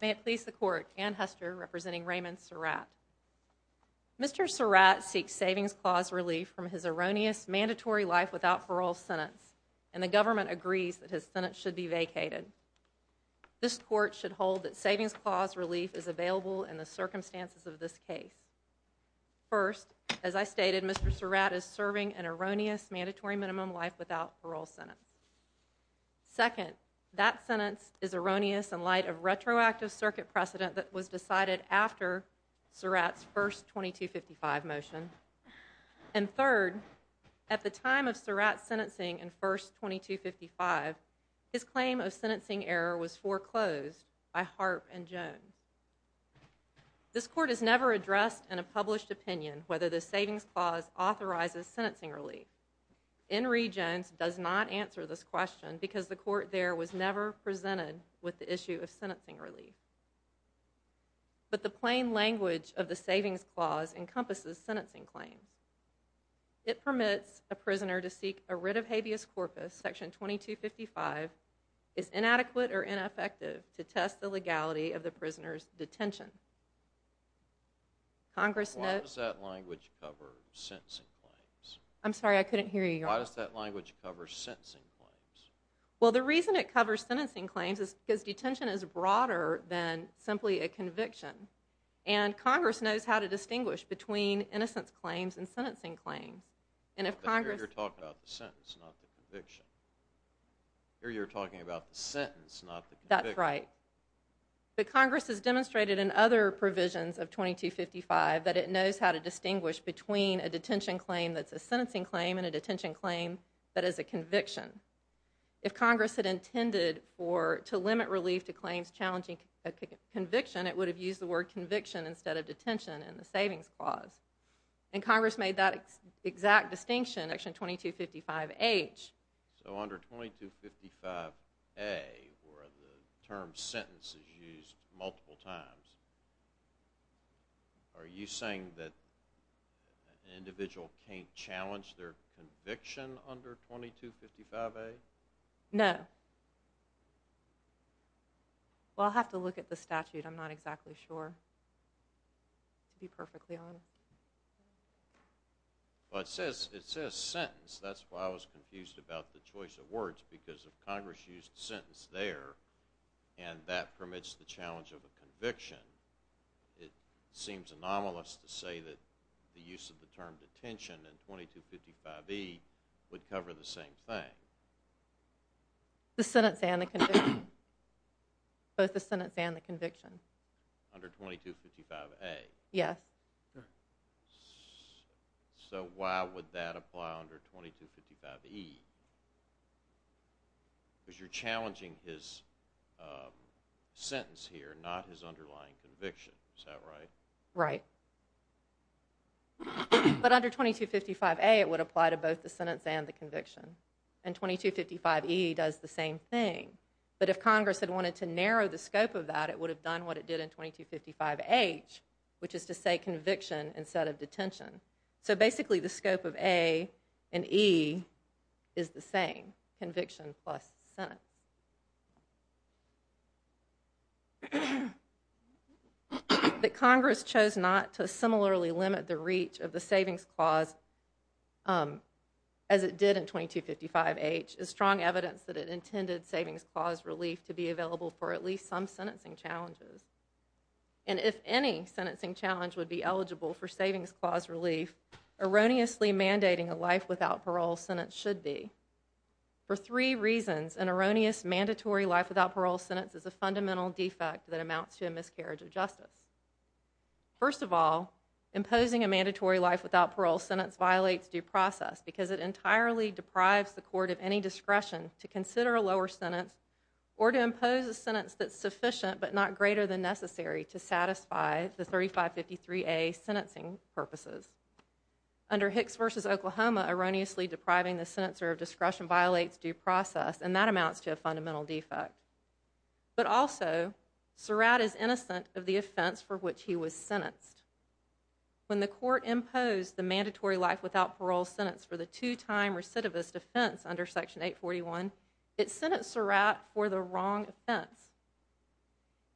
May it please the Court, Anne Hester, representing Raymond Surratt. Mr. Surratt seeks savings clause relief from his erroneous mandatory life without parole sentence, and the government agrees that his sentence should be vacated. This Court should hold that savings clause relief is available in the circumstances of this case. First, as I stated, Mr. Surratt is serving an erroneous mandatory minimum life without parole sentence. Second, that sentence is erroneous in light of retroactive circuit precedent that was decided after Surratt's first 2255 motion. And third, at the time of Surratt's sentencing in first 2255, his claim of sentencing error was foreclosed by Harp and Jones. This Court has never addressed in a published opinion whether the savings clause authorizes sentencing relief. N. Reed Jones does not answer this question because the Court there was never presented with the issue of sentencing relief. But the plain language of the savings clause encompasses sentencing claims. It permits a prisoner to seek a writ of habeas corpus, section 2255, is inadequate or ineffective to test the legality of the prisoner's detention. Congress notes- Why does that language cover sentencing claims? I'm sorry, I couldn't hear you. Why does that language cover sentencing claims? Well the reason it covers sentencing claims is because detention is broader than simply a conviction. And Congress knows how to distinguish between innocence claims and sentencing claims. And if Congress- But here you're talking about the sentence, not the conviction. Here you're talking about the sentence, not the conviction. That's right. But Congress has demonstrated in other provisions of 2255 that it knows how to distinguish between a detention claim that's a sentencing claim and a detention claim that is a conviction. If Congress had intended to limit relief to claims challenging a conviction, it would have used the word conviction instead of detention in the savings clause. And Congress made that exact distinction in section 2255H. So under 2255A, where the term sentence is used multiple times, are you saying that in individual can't challenge their conviction under 2255A? No. Well I'll have to look at the statute, I'm not exactly sure to be perfectly honest. Well it says sentence, that's why I was confused about the choice of words, because if Congress used sentence there, and that permits the challenge of a conviction, it seems anomalous to say that the use of the term detention in 2255E would cover the same thing. The sentence and the conviction. Both the sentence and the conviction. Under 2255A? Yes. So why would that apply under 2255E? Because you're challenging his sentence here, not his underlying conviction. Is that right? Right. But under 2255A, it would apply to both the sentence and the conviction. And 2255E does the same thing. But if Congress had wanted to narrow the scope of that, it would have done what it did in 2255H, which is to say conviction instead of detention. So basically the scope of A and E is the same. Conviction plus sentence. That Congress chose not to similarly limit the reach of the savings clause as it did in 2255H is strong evidence that it intended savings clause relief to be available for at least some sentencing challenges. And if any sentencing challenge would be eligible for savings clause relief, erroneously mandating a life without parole sentence should be. For three reasons, an erroneous mandatory life without parole sentence is a fundamental defect that amounts to a miscarriage of justice. First of all, imposing a mandatory life without parole sentence violates due process because it entirely deprives the court of any discretion to consider a lower sentence or to impose a sentence that's sufficient but not greater than necessary to satisfy the 3553A sentencing purposes. Under Hicks v. Oklahoma, erroneously depriving the senator of discretion violates due process and that amounts to a fundamental defect. But also, Surratt is innocent of the offense for which he was sentenced. When the court imposed the mandatory life without parole sentence for the two-time recidivist offense under Section 841, it sentenced Surratt for the wrong offense.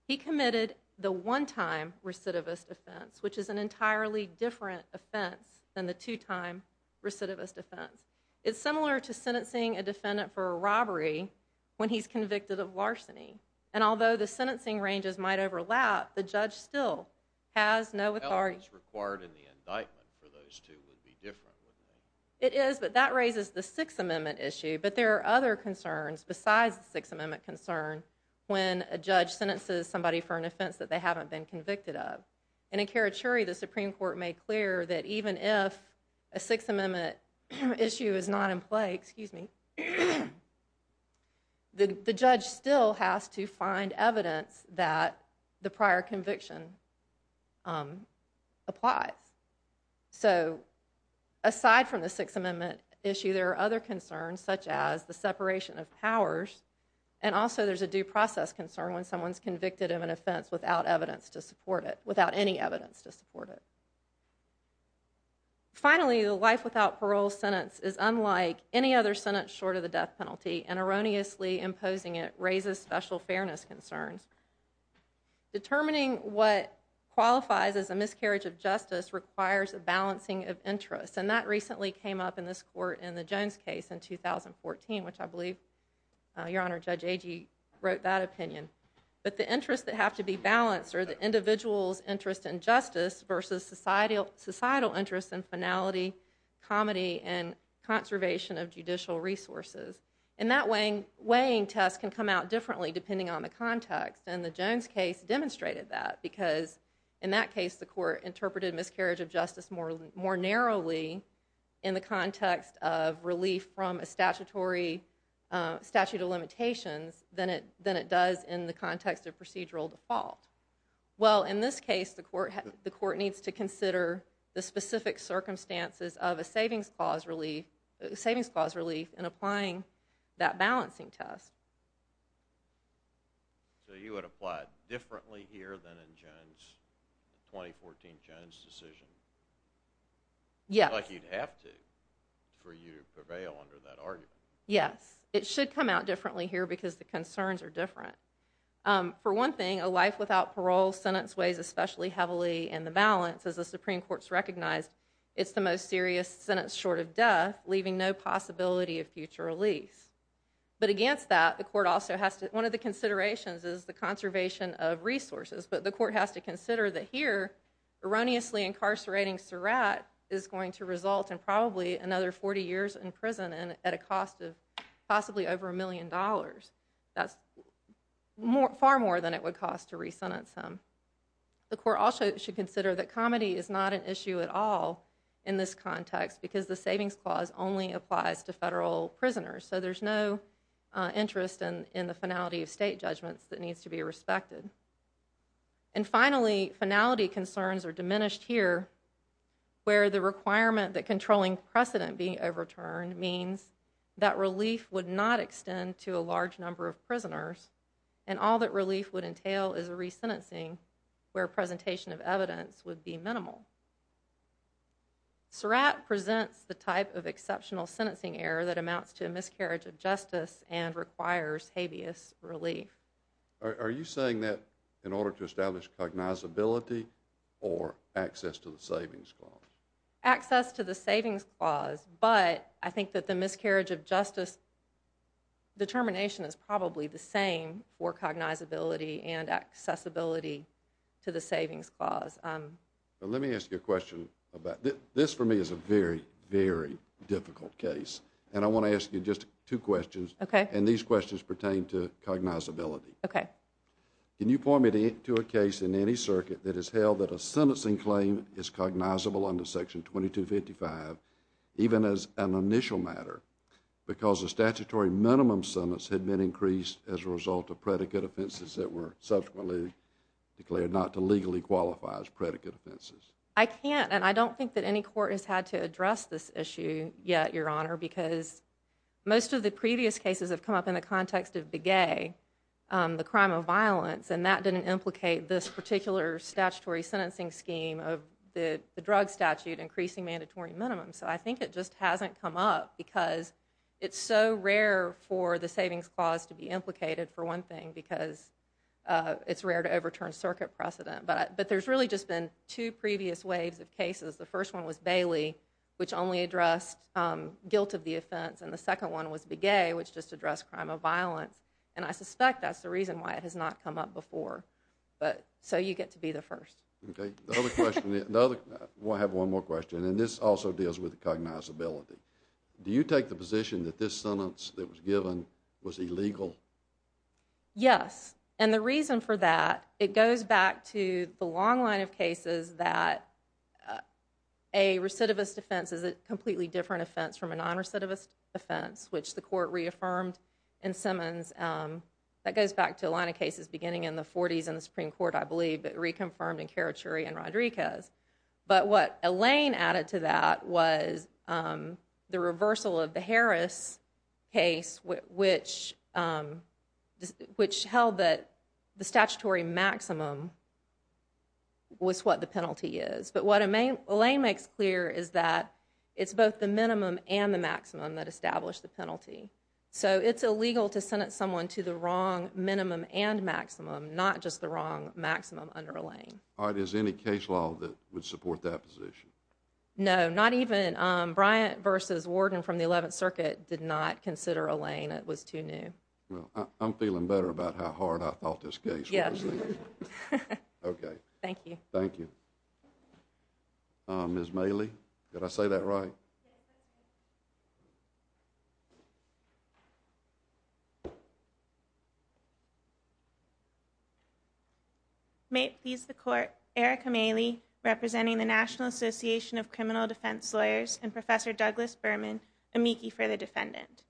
He committed the one-time recidivist offense, which is an entirely different offense than the two-time recidivist offense. It's similar to sentencing a defendant for a robbery when he's convicted of larceny. And although the sentencing ranges might overlap, the judge still has no authority. It is, but that raises the Sixth Amendment issue. But there are other concerns besides the Sixth Amendment concern when a judge sentences somebody for an offense that they haven't been convicted of. And in Karachuri, the Supreme Court made clear that even if a Sixth Amendment issue is not in play, the judge still has to find evidence that the prior conviction applies. So, aside from the Sixth Amendment issue, there are other concerns such as the separation of powers, and also there's a due process concern when someone's convicted of an offense without evidence to support it, without any evidence to support it. Finally, the life without parole sentence is unlike any other sentence short of the death penalty, and erroneously imposing it raises special fairness concerns. Determining what qualifies as a miscarriage of justice requires a balancing of interests. And that recently came up in this court in the Jones case in 2014, which I believe, Your Honor, Judge Agee wrote that opinion. But the interests that have to be balanced are the individual's interest in justice versus societal interests in finality, comity, and conservation of judicial resources. And that weighing test can come out differently depending on the context. And the Jones case demonstrated that, because in that case, the court interpreted miscarriage of justice more narrowly in the context of relief from a statutory statute of limitations than it does in the context of procedural default. Well, in this case, the court needs to consider the specific circumstances of a savings clause relief in applying that balancing test. So you would apply it differently here than in Jones, 2014 Jones decision? Yes. Like you'd have to for you to prevail under that argument. Yes. It should come out differently here because the concerns are different. For one thing, a life without parole sentence weighs especially heavily in the balance, as the Supreme Court's recognized. It's the most serious sentence short of death, leaving no possibility of future release. But against that, the court also has to, one of the considerations is the conservation of resources, but the court has to consider that here, erroneously incarcerating Surratt is going to result in probably another 40 years in prison and at a cost of possibly over a million dollars. That's far more than it would cost to resentence him. The court also should consider that comedy is not an issue at all in this context because the savings clause only applies to federal prisoners. So there's no interest in the finality of state judgments that needs to be respected. And finally, finality concerns are diminished here where the requirement that controlling precedent being overturned means that relief would not extend to a large number of prisoners and all that relief would entail is a resentencing where presentation of evidence would be minimal. Surratt presents the type of exceptional sentencing error that amounts to a miscarriage of justice and requires habeas relief. Are you saying that in order to establish cognizability or access to the savings clause? Access to the savings clause, but I think that the miscarriage of justice determination is probably the same for cognizability and accessibility to the savings clause. Let me ask you a question. This for me is a very, very difficult case. And I want to ask you just two questions. Okay. And these questions pertain to cognizability. Okay. Can you point me to a case in any circuit that has held that a sentencing claim is cognizable under Section 2255 even as an initial matter because a statutory minimum sentence had been increased as a result of predicate offenses that were subsequently declared not to legally qualify as predicate offenses? I can't and I don't think that any court has had to address this issue yet, Your Honor, because most of the previous cases have come up in the context of Begay, the crime of violence, and that didn't implicate this particular statutory sentencing scheme of the drug statute increasing mandatory minimum. So I think it just hasn't come up because it's so rare for the savings clause to be implicated, for one thing, because it's rare to overturn circuit precedent. But there's really just been two previous waves of cases. The first one was Bailey, which only addressed guilt of the offense, and the second one was Begay, which just addressed crime of violence. And I suspect that's the reason why it has not come up before. So you get to be the first. Okay. I have one more question, and this also deals with cognizability. Do you take the position that this sentence that was given was illegal? Yes. And the reason for that, it goes back to the long line of cases that a recidivist offense is a completely different offense from a nonrecidivist offense, which the court reaffirmed in Simmons – that goes back to the line of cases beginning in the 40s in the Supreme Court, I believe, but reconfirmed in Carachuri and Rodriguez. But what Elaine added to that was the reversal of the Harris case, which held that the statutory maximum was what the penalty is. But what Elaine makes clear is that it's both the minimum and the maximum that establish the penalty. So it's illegal to sentence someone to the wrong minimum and maximum, not just the wrong maximum under Elaine. All right. Is there any case law that would support that position? No. Not even Bryant v. Warden from the 11th Circuit did not consider Elaine. It was too new. Well, I'm feeling better about how hard I thought this case was. Yes. Okay. Thank you. Thank you. Ms. Maley, did I say that right? Yes. May it please the Court, Erica Maley, representing the National Association of Criminal Defense Lawyers, and Professor Douglas Berman, amici for the defendant.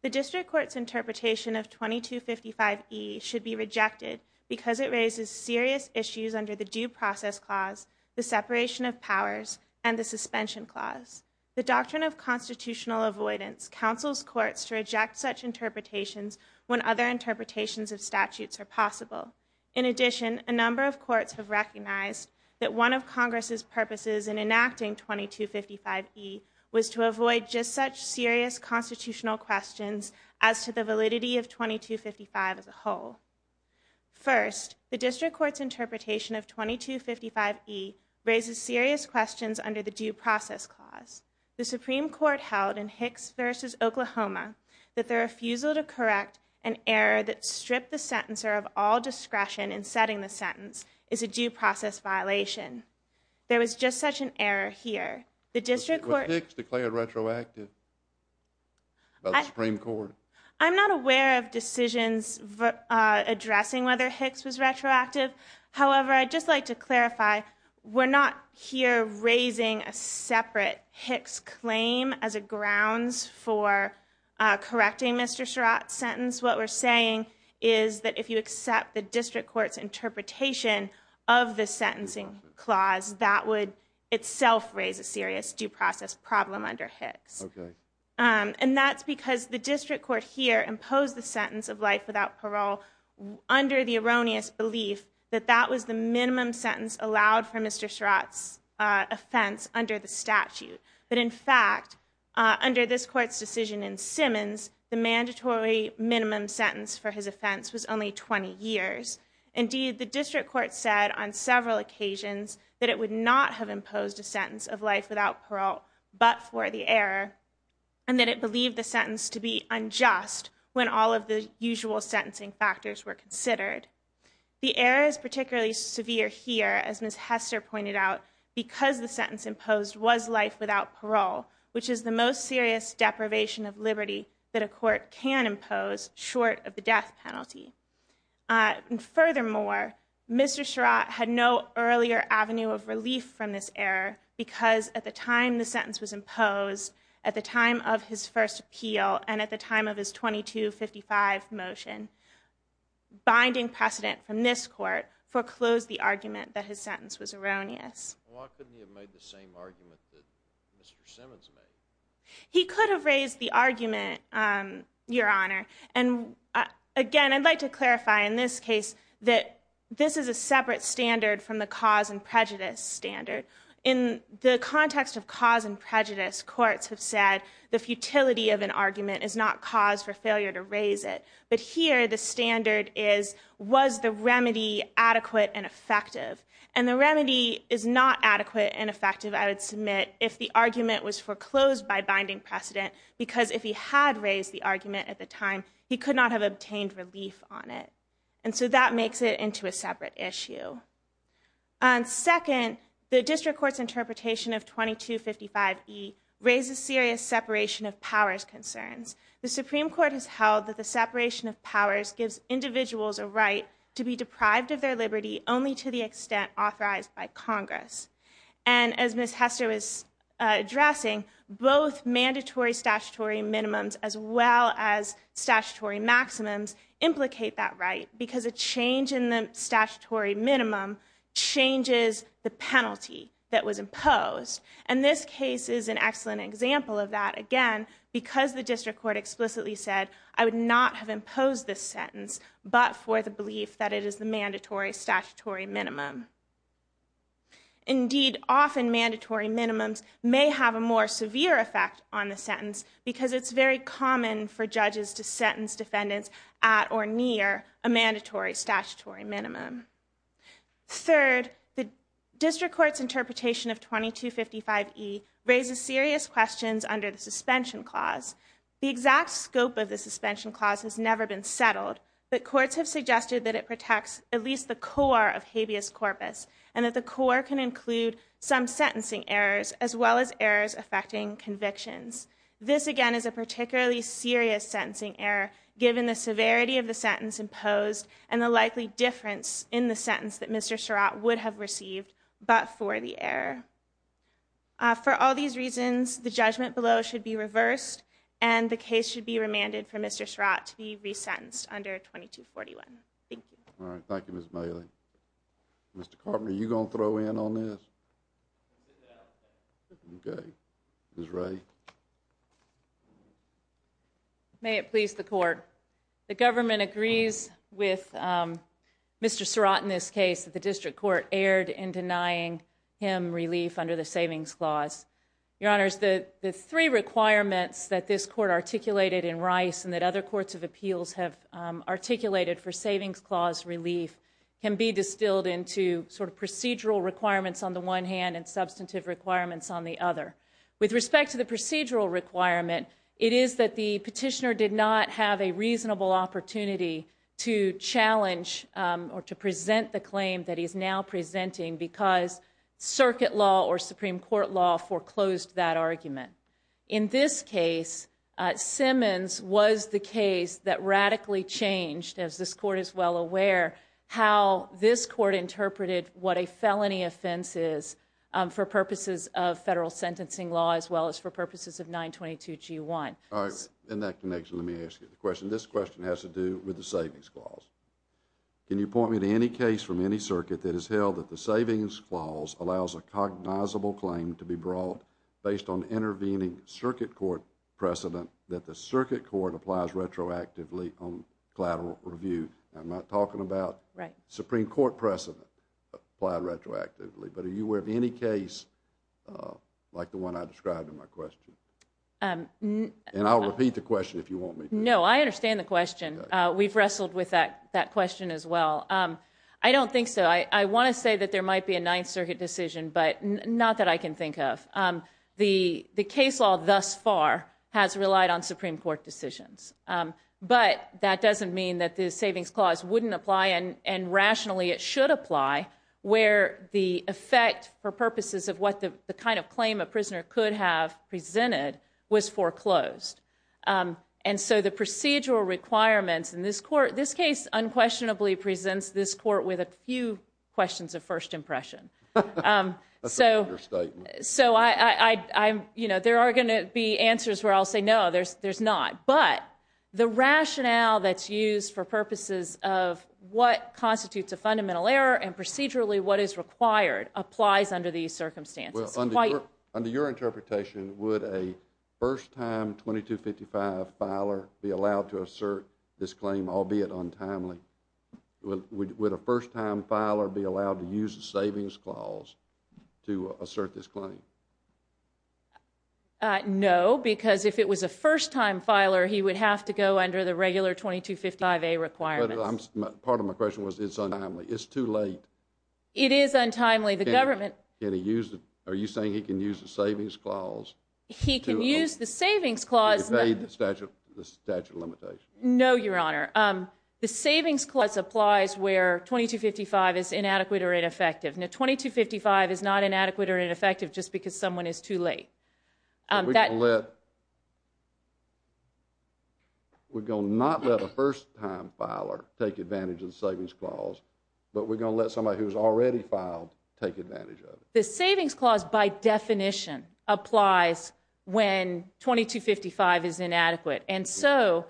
The District Court's interpretation of 2255E should be rejected because it raises serious issues under the Due Process Clause, the Separation of Powers, and the Suspension Clause. The Doctrine of Constitutional Avoidance counsels courts to reject such interpretations when other interpretations of statutes are possible. In addition, a number of courts have recognized that one of Congress' purposes in enacting 2255E was to avoid just such serious constitutional questions as to the validity of 2255 as a whole. First, the District Court's interpretation of 2255E raises serious questions under the Due Process Clause. The Supreme Court held in Hicks v. Oklahoma that the refusal to correct an error that stripped the sentencer of all discretion in setting the sentence is a due process violation. There was just such an error here. The District Court— Was Hicks declared retroactive by the Supreme Court? I'm not aware of decisions addressing whether Hicks was retroactive. However, I'd just like to clarify, we're not here raising a separate Hicks claim as a grounds for correcting Mr. Sherratt's sentence. What we're saying is that if you accept the District Court's interpretation of the sentencing clause, that would itself raise a serious due process problem under Hicks. Okay. And that's because the District Court here imposed the sentence of life without parole under the erroneous belief that that was the minimum sentence allowed for Mr. Sherratt's offense under the statute. But in fact, under this Court's decision in Simmons, the mandatory minimum sentence for his offense was only 20 years. Indeed, the District Court said on several occasions that it would not have imposed a and that it believed the sentence to be unjust when all of the usual sentencing factors were considered. The error is particularly severe here, as Ms. Hester pointed out, because the sentence imposed was life without parole, which is the most serious deprivation of liberty that a court can impose short of the death penalty. And furthermore, Mr. Sherratt had no earlier avenue of relief from this error because at the time the sentence was imposed, at the time of his first appeal, and at the time of his 2255 motion, binding precedent from this Court foreclosed the argument that his sentence was erroneous. Why couldn't he have made the same argument that Mr. Simmons made? He could have raised the argument, Your Honor. And again, I'd like to clarify in this case that this is a separate standard from the cause and prejudice standard. In the context of cause and prejudice, courts have said the futility of an argument is not cause for failure to raise it. But here, the standard is, was the remedy adequate and effective? And the remedy is not adequate and effective, I would submit, if the argument was foreclosed by binding precedent, because if he had raised the argument at the time, he could not have obtained relief on it. And so that makes it into a separate issue. Second, the District Court's interpretation of 2255E raises serious separation of powers concerns. The Supreme Court has held that the separation of powers gives individuals a right to be deprived of their liberty only to the extent authorized by Congress. And as Ms. Hester was addressing, both mandatory statutory minimums as well as statutory maximums implicate that right because a change in the statutory minimum changes the penalty that was imposed. And this case is an excellent example of that, again, because the District Court explicitly said, I would not have imposed this sentence but for the belief that it is the mandatory statutory minimum. Indeed, often mandatory minimums may have a more severe effect on the sentence because it's very common for judges to sentence defendants at or near a mandatory statutory minimum. Third, the District Court's interpretation of 2255E raises serious questions under the suspension clause. The exact scope of the suspension clause has never been settled, but courts have suggested that it protects at least the core of habeas corpus and that the core can include some sentencing errors as well as errors affecting convictions. This, again, is a particularly serious sentencing error given the severity of the sentence imposed and the likely difference in the sentence that Mr. Surratt would have received but for the error. For all these reasons, the judgment below should be reversed and the case should be remanded for Mr. Surratt to be resentenced under 2241. Thank you. All right. Thank you, Ms. Bailey. Mr. Carpenter, are you going to throw in on this? No. Okay. Ms. Ray. May it please the Court. The government agrees with Mr. Surratt in this case that the District Court erred in denying him relief under the savings clause. Your Honors, the three requirements that this Court articulated in Rice and that other courts of appeals have articulated for savings clause relief can be distilled into sort of procedural requirements on the one hand and substantive requirements on the other. With respect to the procedural requirement, it is that the petitioner did not have a reasonable opportunity to challenge or to present the claim that he is now presenting because circuit law or Supreme Court law foreclosed that argument. In this case, Simmons was the case that radically changed, as this Court is well aware, how this Court interpreted what a felony offense is for purposes of federal sentencing law as well as for purposes of 922G1. All right. In that connection, let me ask you the question. This question has to do with the savings clause. Can you point me to any case from any circuit that has held that the savings clause allows a cognizable claim to be brought based on intervening circuit court precedent that the circuit court applies retroactively on collateral review? I'm not talking about Supreme Court precedent applied retroactively, but are you aware of any case like the one I described in my question? And I'll repeat the question if you want me to. No, I understand the question. We've wrestled with that question as well. I don't think so. I want to say that there might be a Ninth Circuit decision, but not that I can think of. The case law thus far has relied on Supreme Court decisions, but that doesn't mean that the savings clause wouldn't apply and rationally it should apply where the effect for purposes of what the kind of claim a prisoner could have presented was foreclosed. And so the procedural requirements in this court, this case unquestionably presents this court with a few questions of first impression. That's a clear statement. So there are going to be answers where I'll say no, there's not. But the rationale that's used for purposes of what constitutes a fundamental error and procedurally what is required applies under these circumstances. Under your interpretation, would a first-time 2255 filer be allowed to assert this claim, albeit untimely? Would a first-time filer be allowed to use a savings clause to assert this claim? No, because if it was a first-time filer, he would have to go under the regular 2255A requirements. But part of my question was it's untimely. It's too late. It is untimely. The government Can he use it? Are you saying he can use the savings clause to evade the statute of limitations? No, Your Honor. The savings clause applies where 2255 is inadequate or ineffective. Now, 2255 is not inadequate or ineffective just because someone is too late. We're going to not let a first-time filer take advantage of the savings clause, but we're going to let somebody who's already filed take advantage of it. The savings clause by definition applies when 2255 is inadequate. And so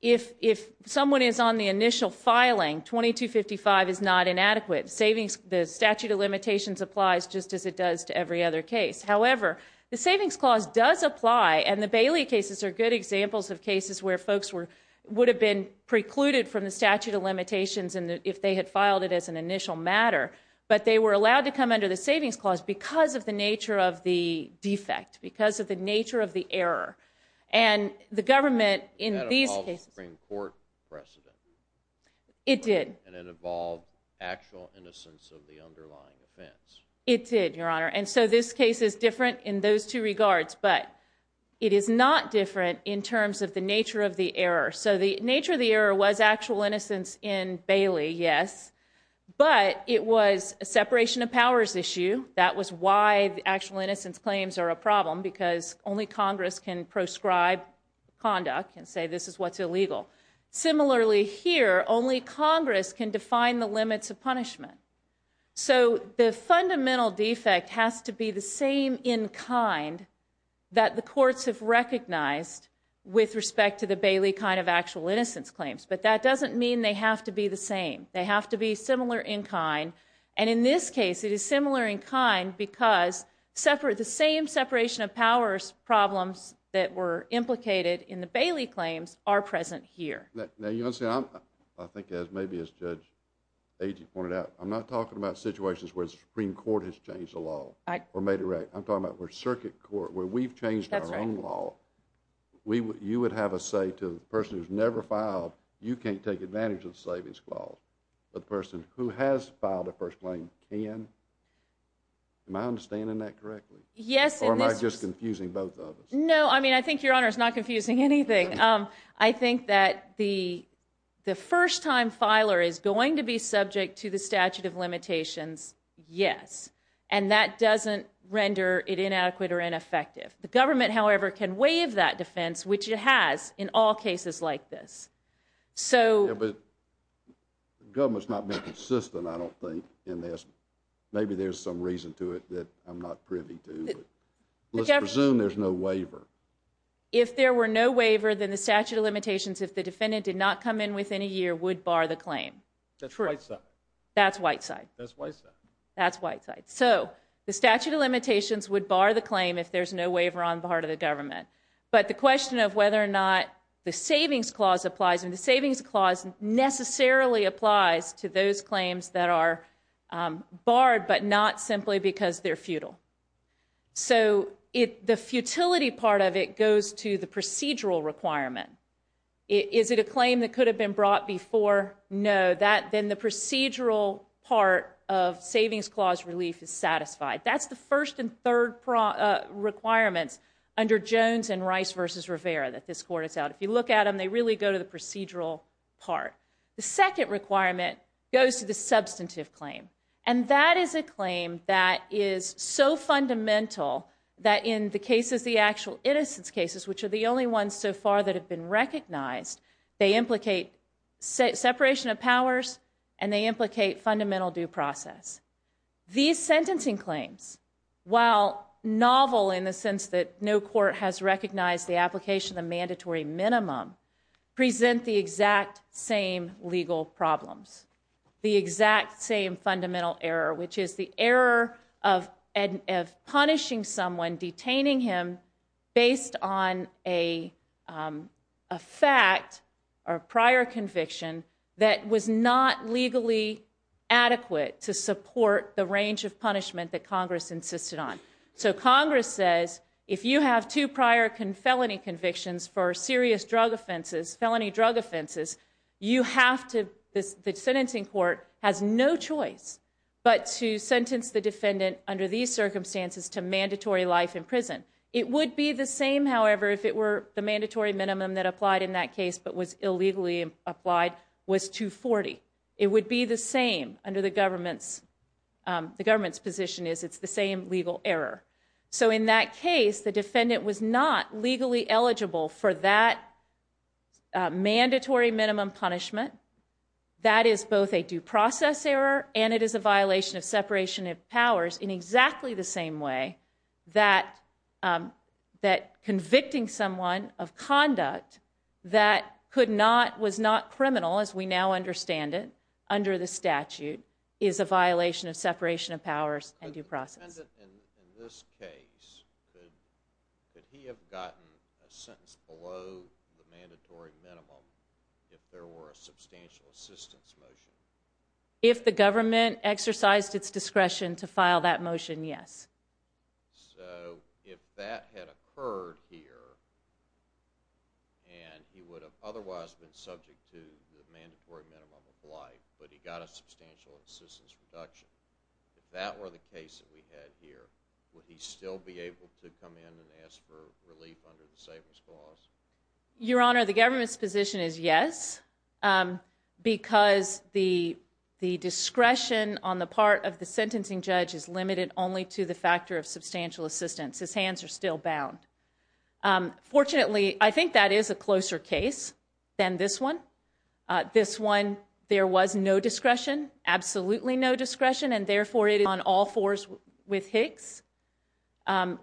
if someone is on the initial filing, 2255 is not inadequate. The statute of limitations applies just as it does to every other case. However, the savings clause does apply, and the Bailey cases are good examples of cases where folks would have been precluded from the statute of limitations if they had filed it as an initial matter, but they were allowed to come under the savings clause because of the nature of the defect, because of the nature of the error. And the government in these cases That involved Supreme Court precedent. It did. And it involved actual innocence of the underlying offense. It did, Your Honor. And so this case is different in those two regards, but it is not different in terms of the nature of the error. So the nature of the error was actual innocence in Bailey, yes, but it was a separation of powers issue. That was why the actual innocence claims are a problem, because only Congress can prescribe conduct and say this is what's illegal. Similarly here, only Congress can define the limits of punishment. So the fundamental defect has to be the same in kind that the courts have recognized with respect to the Bailey kind of actual innocence claims, but that doesn't mean they have to be the same. They have to be similar in kind. And in this case, it is similar in kind because the same separation of powers problems that were implicated in the Bailey claims are present here. Now you understand, I think as maybe as Judge Agee pointed out, I'm not talking about situations where the Supreme Court has changed the law or made it right. I'm talking about where circuit court, where we've changed our own law. That's right. You would have a say to the person who's never filed. You can't take advantage of the savings clause. But the person who has filed a first claim can. Am I understanding that correctly? Yes. Or am I just confusing both of us? No. I mean, I think Your Honor is not confusing anything. I think that the first time filer is going to be subject to the statute of limitations, yes. And that doesn't render it inadequate or ineffective. The government, however, can waive that defense, which it has in all cases like this. But the government's not been consistent, I don't think, in this. Maybe there's some reason to it that I'm not privy to. Let's presume there's no waiver. If there were no waiver, then the statute of limitations, if the defendant did not come in within a year, would bar the claim. That's right. That's Whiteside. That's Whiteside. That's Whiteside. So the statute of limitations would bar the claim if there's no waiver on the part of the government. But the question of whether or not the savings clause applies, and the savings clause necessarily applies to those claims that are barred, but not simply because they're futile. So the futility part of it goes to the procedural requirement. Is it a claim that could have been brought before? No. Then the procedural part of savings clause relief is satisfied. That's the first and third requirements under Jones and Rice v. Rivera that this court is out. If you look at them, they really go to the procedural part. The second requirement goes to the substantive claim. And that is a claim that is so fundamental that in the cases, the actual innocence cases, which are the only ones so far that have been recognized, they implicate separation of powers and they implicate fundamental due process. These sentencing claims, while novel in the sense that no court has recognized the application, the mandatory minimum, present the exact same legal problems, the exact same fundamental error, which is the error of punishing someone, detaining him based on a fact or prior conviction that was not legally adequate to support the range of punishment that Congress insisted on. So Congress says, if you have two prior felony convictions for serious drug offenses, you have to, the sentencing court has no choice but to sentence the defendant under these circumstances to mandatory life in prison. It would be the same, however, if it were the mandatory minimum that applied in that case but was illegally applied was 240. It would be the same under the government's, the government's position is it's the same legal error. So in that case, the defendant was not legally eligible for that mandatory minimum punishment. That is both a due process error and it is a violation of separation of powers in exactly the same way that convicting someone of conduct that could not, was not criminal as we now understand it under the statute, is a violation of separation of powers and due process. If the defendant in this case, could he have gotten a sentence below the mandatory minimum if there were a substantial assistance motion? If the government exercised its discretion to file that motion, yes. So if that had occurred here and he would have otherwise been subject to the mandatory minimum of life but he got a substantial assistance reduction, if that were the case that we had here, would he still be able to come in and ask for relief under the savings clause? Your Honor, the government's position is yes because the discretion on the part of the sentencing judge is limited only to the factor of substantial assistance. His hands are still bound. Fortunately, I think that is a closer case than this one. This one, there was no discretion, absolutely no discretion, and therefore it is on all fours with Hicks.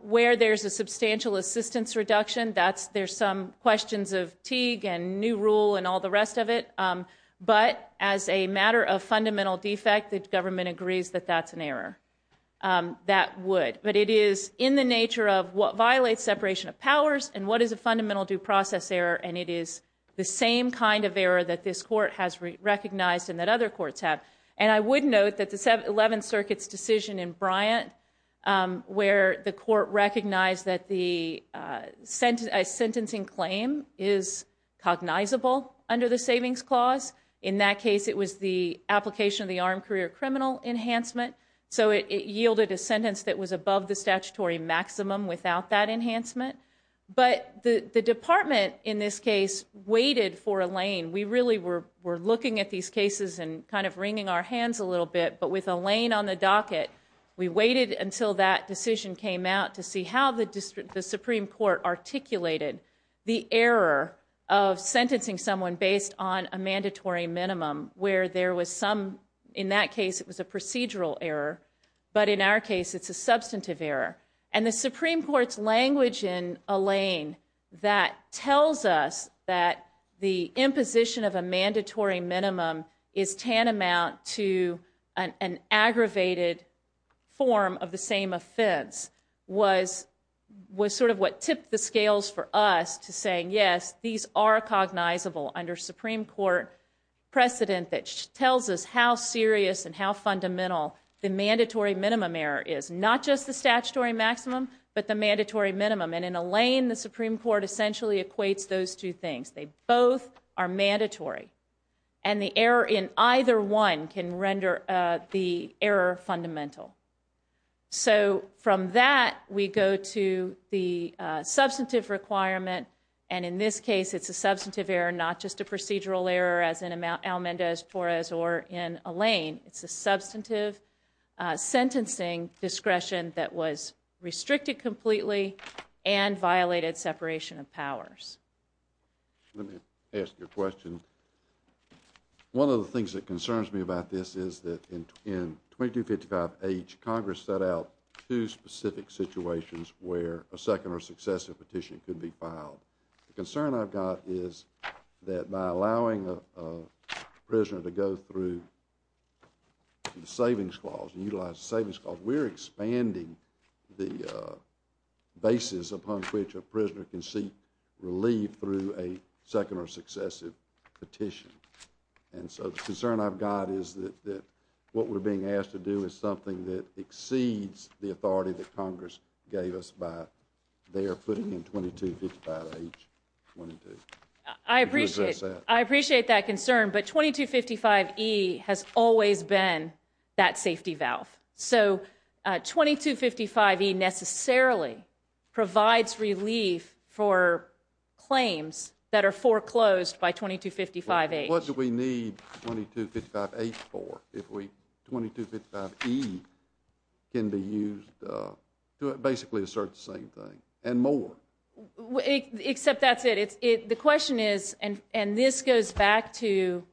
Where there's a substantial assistance reduction, there's some questions of Teague and new rule and all the rest of it. But as a matter of fundamental defect, the government agrees that that's an error. That would. But it is in the nature of what violates separation of powers and what is a fundamental due process error and it is the same kind of error that this court has recognized and that other courts have. And I would note that the 11th Circuit's decision in Bryant where the court recognized that the sentencing claim is cognizable under the savings clause, in that case it was the application of the armed career criminal enhancement, so it yielded a sentence that was above the statutory maximum without that enhancement. But the department in this case waited for a lane. We really were looking at these cases and kind of wringing our hands a little bit, but with a lane on the docket, we waited until that decision came out to see how the Supreme Court articulated the error of sentencing someone based on a mandatory minimum where there was some, in that case it was a procedural error, but in our case it's a substantive error. And the Supreme Court's language in a lane that tells us that the imposition of a mandatory minimum is tantamount to an aggravated form of the same offense was sort of what tipped the scales for us to saying, yes, these are cognizable under Supreme Court precedent that tells us how serious and how fundamental the mandatory minimum error is, not just the statutory maximum, but the mandatory minimum. And in a lane, the Supreme Court essentially equates those two things. They both are mandatory. And the error in either one can render the error fundamental. So from that, we go to the substantive requirement, and in this case it's a substantive error, not just a procedural error as in Almendez-Torres or in a lane. It's a substantive sentencing discretion that was restricted completely and violated separation of powers. Let me ask you a question. One of the things that concerns me about this is that in 2255H, Congress set out two specific situations where a second or successive petition could be filed. The concern I've got is that by allowing a prisoner to go through the Savings Clause and utilize the Savings Clause, we're expanding the basis upon which a prisoner can seek relief through a second or successive petition. And so the concern I've got is that what we're being asked to do is something that exceeds the authority that Congress gave us by their putting in 2255H. I appreciate that concern, but 2255E has always been that safety valve. So 2255E necessarily provides relief for claims that are foreclosed by 2255H. What do we need 2255H for if 2255E can be used to basically assert the same thing and more? Except that's it. The question is, and this goes back to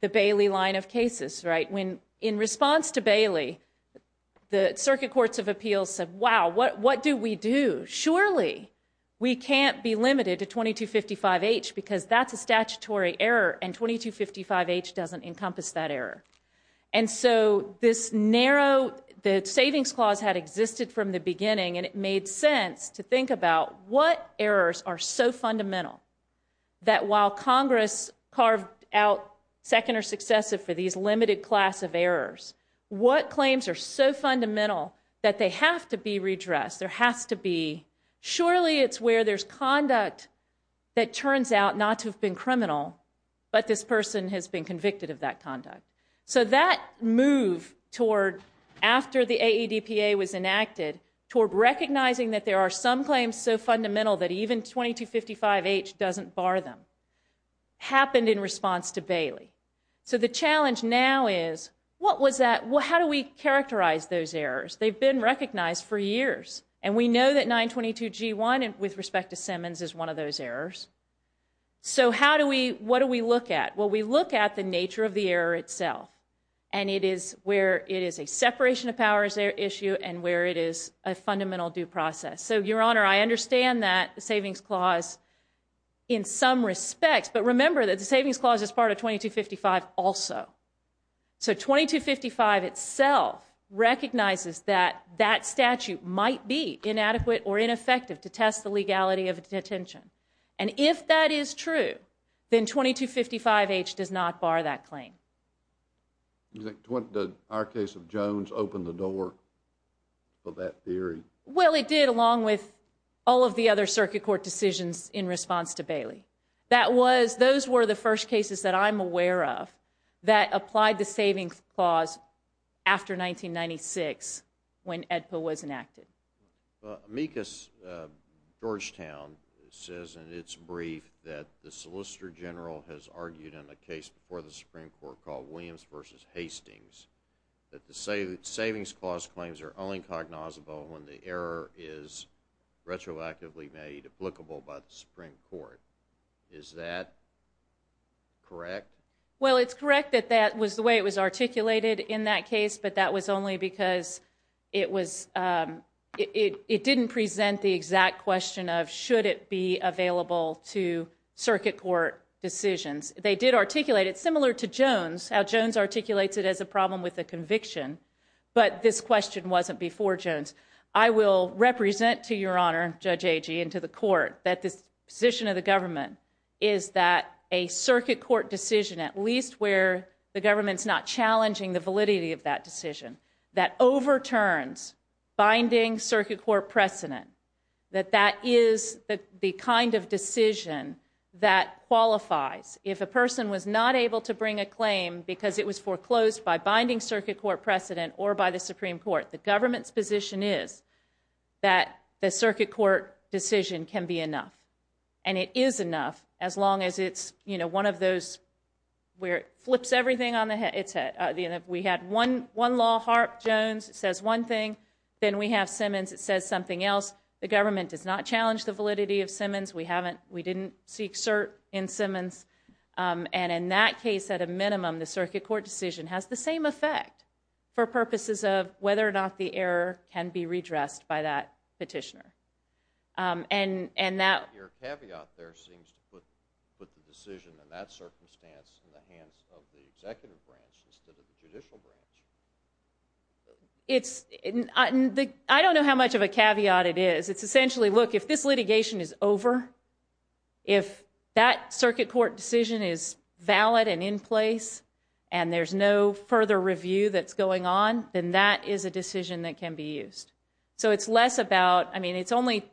the Bailey line of cases, right? When in response to Bailey, the Circuit Courts of Appeals said, wow, what do we do? Surely we can't be limited to 2255H because that's a statutory error and 2255H doesn't encompass that error. And so this narrow, the Savings Clause had existed from the beginning and it made sense to think about what errors are so fundamental that while Congress carved out second or successive for these limited class of errors, what claims are so fundamental that they have to be redressed? There has to be, surely it's where there's conduct that turns out not to have been criminal, but this person has been convicted of that conduct. So that move toward, after the AEDPA was enacted, toward recognizing that there are some claims so fundamental that even 2255H doesn't bar them, happened in response to Bailey. So the challenge now is, what was that, how do we characterize those errors? They've been recognized for years. And we know that 922G1 with respect to Simmons is one of those errors. So how do we, what do we look at? Well, we look at the nature of the error itself and it is where it is a separation of powers issue and where it is a fundamental due process. So, Your Honor, I understand that the Savings Clause in some respects, but remember that the Savings Clause is part of 2255 also. So 2255 itself recognizes that that statute might be inadequate or ineffective to test the legality of detention. And if that is true, then 2255H does not bar that claim. Do you think our case of Jones opened the door for that theory? Well, it did along with all of the other circuit court decisions in response to Bailey. That was, those were the first cases that I'm aware of that applied the Savings Clause after 1996 when AEDPA was enacted. Amicus Georgetown says in its brief that the Solicitor General has argued in a case before the Supreme Court called Williams v. Hastings that the Savings Clause claims are only cognizable when the error is retroactively made applicable by the Supreme Court. Is that correct? Well, it's correct that that was the way it was articulated in that case, but that was only because it was, it didn't present the exact question of should it be available to circuit court decisions. They did articulate it similar to Jones, how Jones articulates it as a problem with a conviction, but this question wasn't before Jones. I will represent, to your honor, Judge Agee, and to the court, that this position of the government is that a circuit court decision, at least where the government's not challenging the validity of that decision, that overturns binding circuit court precedent, that that is the kind of decision that qualifies. If a person was not able to bring a claim because it was foreclosed by binding circuit court precedent or by the Supreme Court, the government's position is that the circuit court decision can be enough, and it is enough as long as it's one of those where it flips everything on its head. If we had one law, Harp, Jones, it says one thing, then we have Simmons, it says something else. The government does not challenge the validity of Simmons. We didn't seek cert in Simmons. In that case, at a minimum, the circuit court decision has the same effect for purposes of whether or not the error can be redressed by that petitioner. Your caveat there seems to put the decision in that circumstance in the hands of the executive branch instead of the judicial branch. I don't know how much of a caveat it is. It's essentially, look, if this litigation is over, if that circuit court decision is valid and in place and there's no further review that's going on, then that is a decision that can be used. So it's less about, I mean, it's only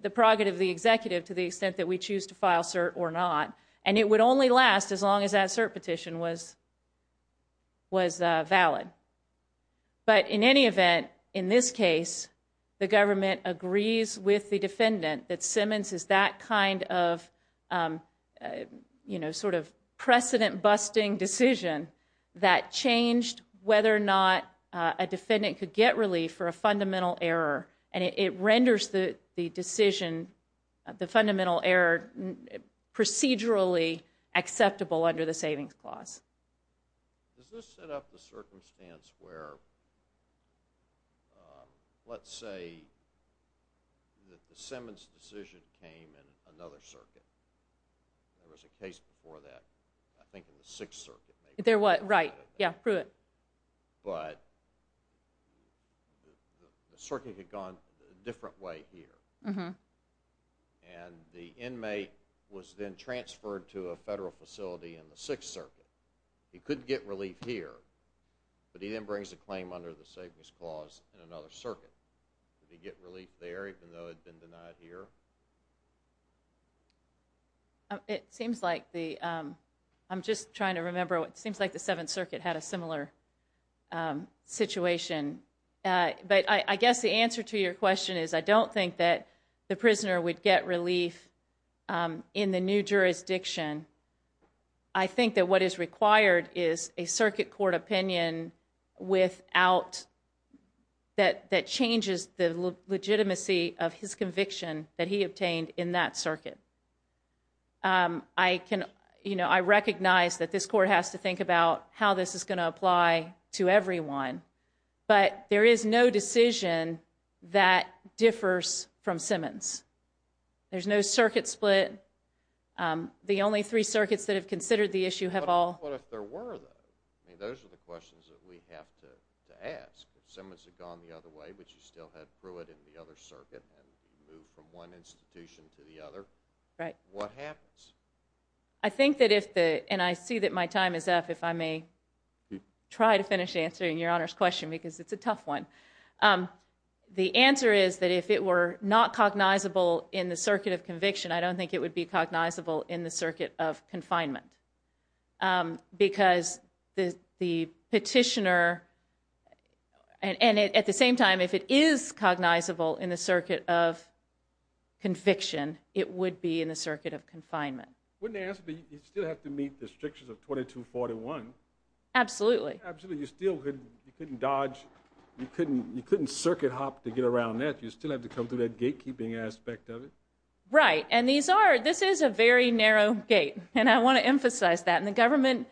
the prerogative of the executive to the extent that we choose to file cert or not, and it would only last as long as that cert petition was valid. But in any event, in this case, the government agrees with the defendant that Simmons is that kind of sort of precedent-busting decision that changed whether or not a defendant could get relief for a fundamental error, and it renders the decision, the fundamental error, procedurally acceptable under the Savings Clause. Does this set up the circumstance where, let's say, that the Simmons decision came in another circuit? There was a case before that, I think in the Sixth Circuit. There was, right. Yeah, Pruitt. But the circuit had gone a different way here, and the inmate was then transferred to a federal facility in the Sixth Circuit. He could get relief here, but he then brings a claim under the Savings Clause in another circuit. Did he get relief there even though it had been denied here? It seems like the, I'm just trying to remember, it seems like the Seventh Circuit had a similar situation. But I guess the answer to your question is I don't think that the prisoner would get relief in the new jurisdiction. I think that what is required is a circuit court opinion without, that changes the legitimacy of his conviction that he obtained in that circuit. I recognize that this court has to think about how this is going to apply to everyone, but there is no decision that differs from Simmons. There's no circuit split. The only three circuits that have considered the issue have all... But what if there were, though? I mean, those are the questions that we have to ask. If Simmons had gone the other way, but you still had Pruitt in the other circuit, and moved from one institution to the other, what happens? I think that if the, and I see that my time is up, if I may try to finish answering Your Honor's question, because it's a tough one. The answer is that if it were not cognizable in the circuit of conviction, I don't think it would be cognizable in the circuit of confinement. Because the petitioner, and at the same time, if it is cognizable in the circuit of conviction, it would be in the circuit of confinement. Wouldn't the answer be you still have to meet the strictures of 2241? Absolutely. Absolutely, you still couldn't dodge, you couldn't circuit hop to get around that. You still have to come through that gatekeeping aspect of it. Right, and these are, this is a very narrow gate, and I want to emphasize that. And the government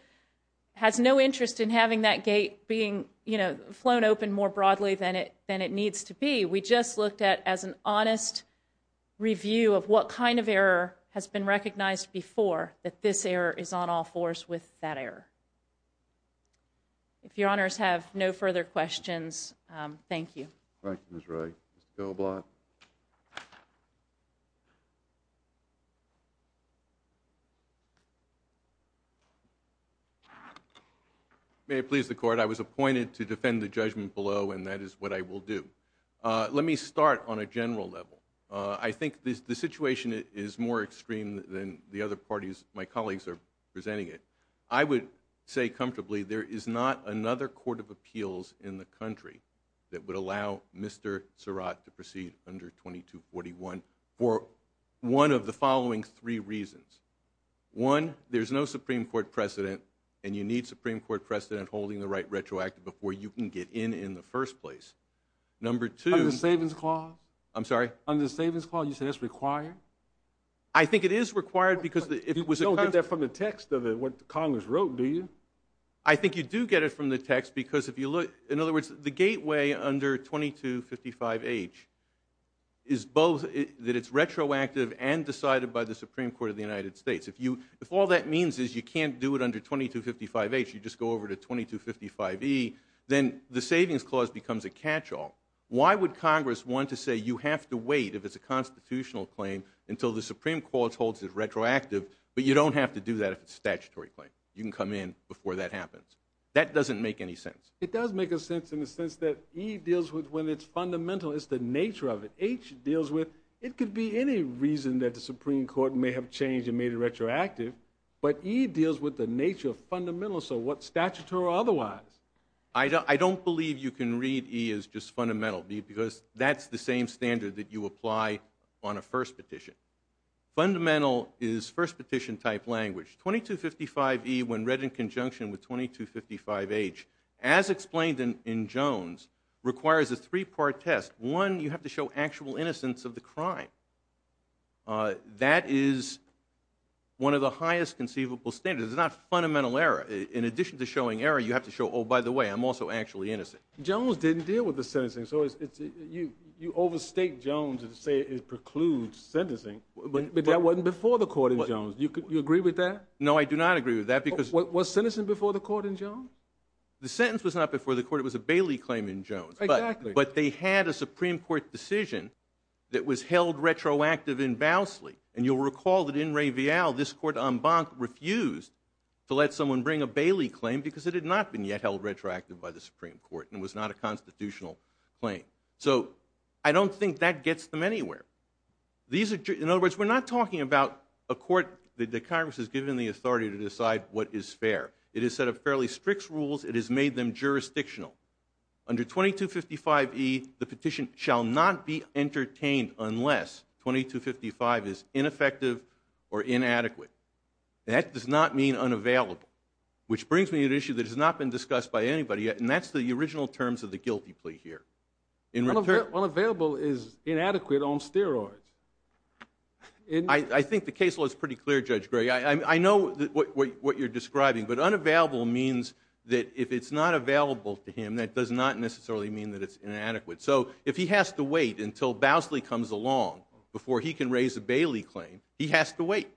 has no interest in having that gate being, you know, where it needs to be. We just looked at as an honest review of what kind of error has been recognized before, that this error is on all fours with that error. If Your Honors have no further questions, thank you. Thank you, Ms. Wright. Mr. Doblot? May it please the Court, I was appointed to defend the judgment below, and that is what I will do. Let me start on a general level. I think the situation is more extreme than the other parties, my colleagues are presenting it. I would say comfortably there is not another court of appeals in the country that would allow Mr. Surratt to proceed under 2241 for one of the following three reasons. One, there's no Supreme Court precedent, and you need Supreme Court precedent holding the right retroactive before you can get in in the first place. Number two. Under the Savings Clause? I'm sorry? Under the Savings Clause, you say that's required? I think it is required because it was a kind of. You don't get that from the text of what Congress wrote, do you? I think you do get it from the text because if you look, in other words, the gateway under 2255H is both that it's retroactive and decided by the Supreme Court of the United States. If all that means is you can't do it under 2255H, you just go over to 2255E, then the Savings Clause becomes a catch-all. Why would Congress want to say you have to wait if it's a constitutional claim until the Supreme Court holds it retroactive, but you don't have to do that if it's a statutory claim? You can come in before that happens. That doesn't make any sense. It does make sense in the sense that E deals with when it's fundamental, it's the nature of it. H deals with it could be any reason that the Supreme Court may have changed and made it retroactive, but E deals with the nature of fundamentals of what's statutory or otherwise. I don't believe you can read E as just fundamental because that's the same standard that you apply on a first petition. Fundamental is first petition type language. 2255E, when read in conjunction with 2255H, as explained in Jones, requires a three-part test. One, you have to show actual innocence of the crime. That is one of the highest conceivable standards. It's not fundamental error. In addition to showing error, you have to show, oh, by the way, I'm also actually innocent. Jones didn't deal with the sentencing. So you overstate Jones and say it precludes sentencing. But that wasn't before the court in Jones. Do you agree with that? No, I do not agree with that. Was sentencing before the court in Jones? The sentence was not before the court. It was a Bailey claim in Jones. Exactly. But they had a Supreme Court decision that was held retroactive in Bowsley. And you'll recall that in Ray Vial, this court en banc refused to let someone bring a Bailey claim because it had not been yet held retroactive by the Supreme Court and it was not a constitutional claim. So I don't think that gets them anywhere. In other words, we're not talking about a court that Congress has given the authority to decide what is fair. It has set up fairly strict rules. It has made them jurisdictional. Under 2255E, the petition shall not be entertained unless 2255 is ineffective or inadequate. That does not mean unavailable, which brings me to an issue that has not been discussed by anybody yet, and that's the original terms of the guilty plea here. Unavailable is inadequate on steroids. I think the case law is pretty clear, Judge Gray. I know what you're describing, but unavailable means that if it's not available to him, that does not necessarily mean that it's inadequate. So if he has to wait until Bowsley comes along before he can raise a Bailey claim, he has to wait.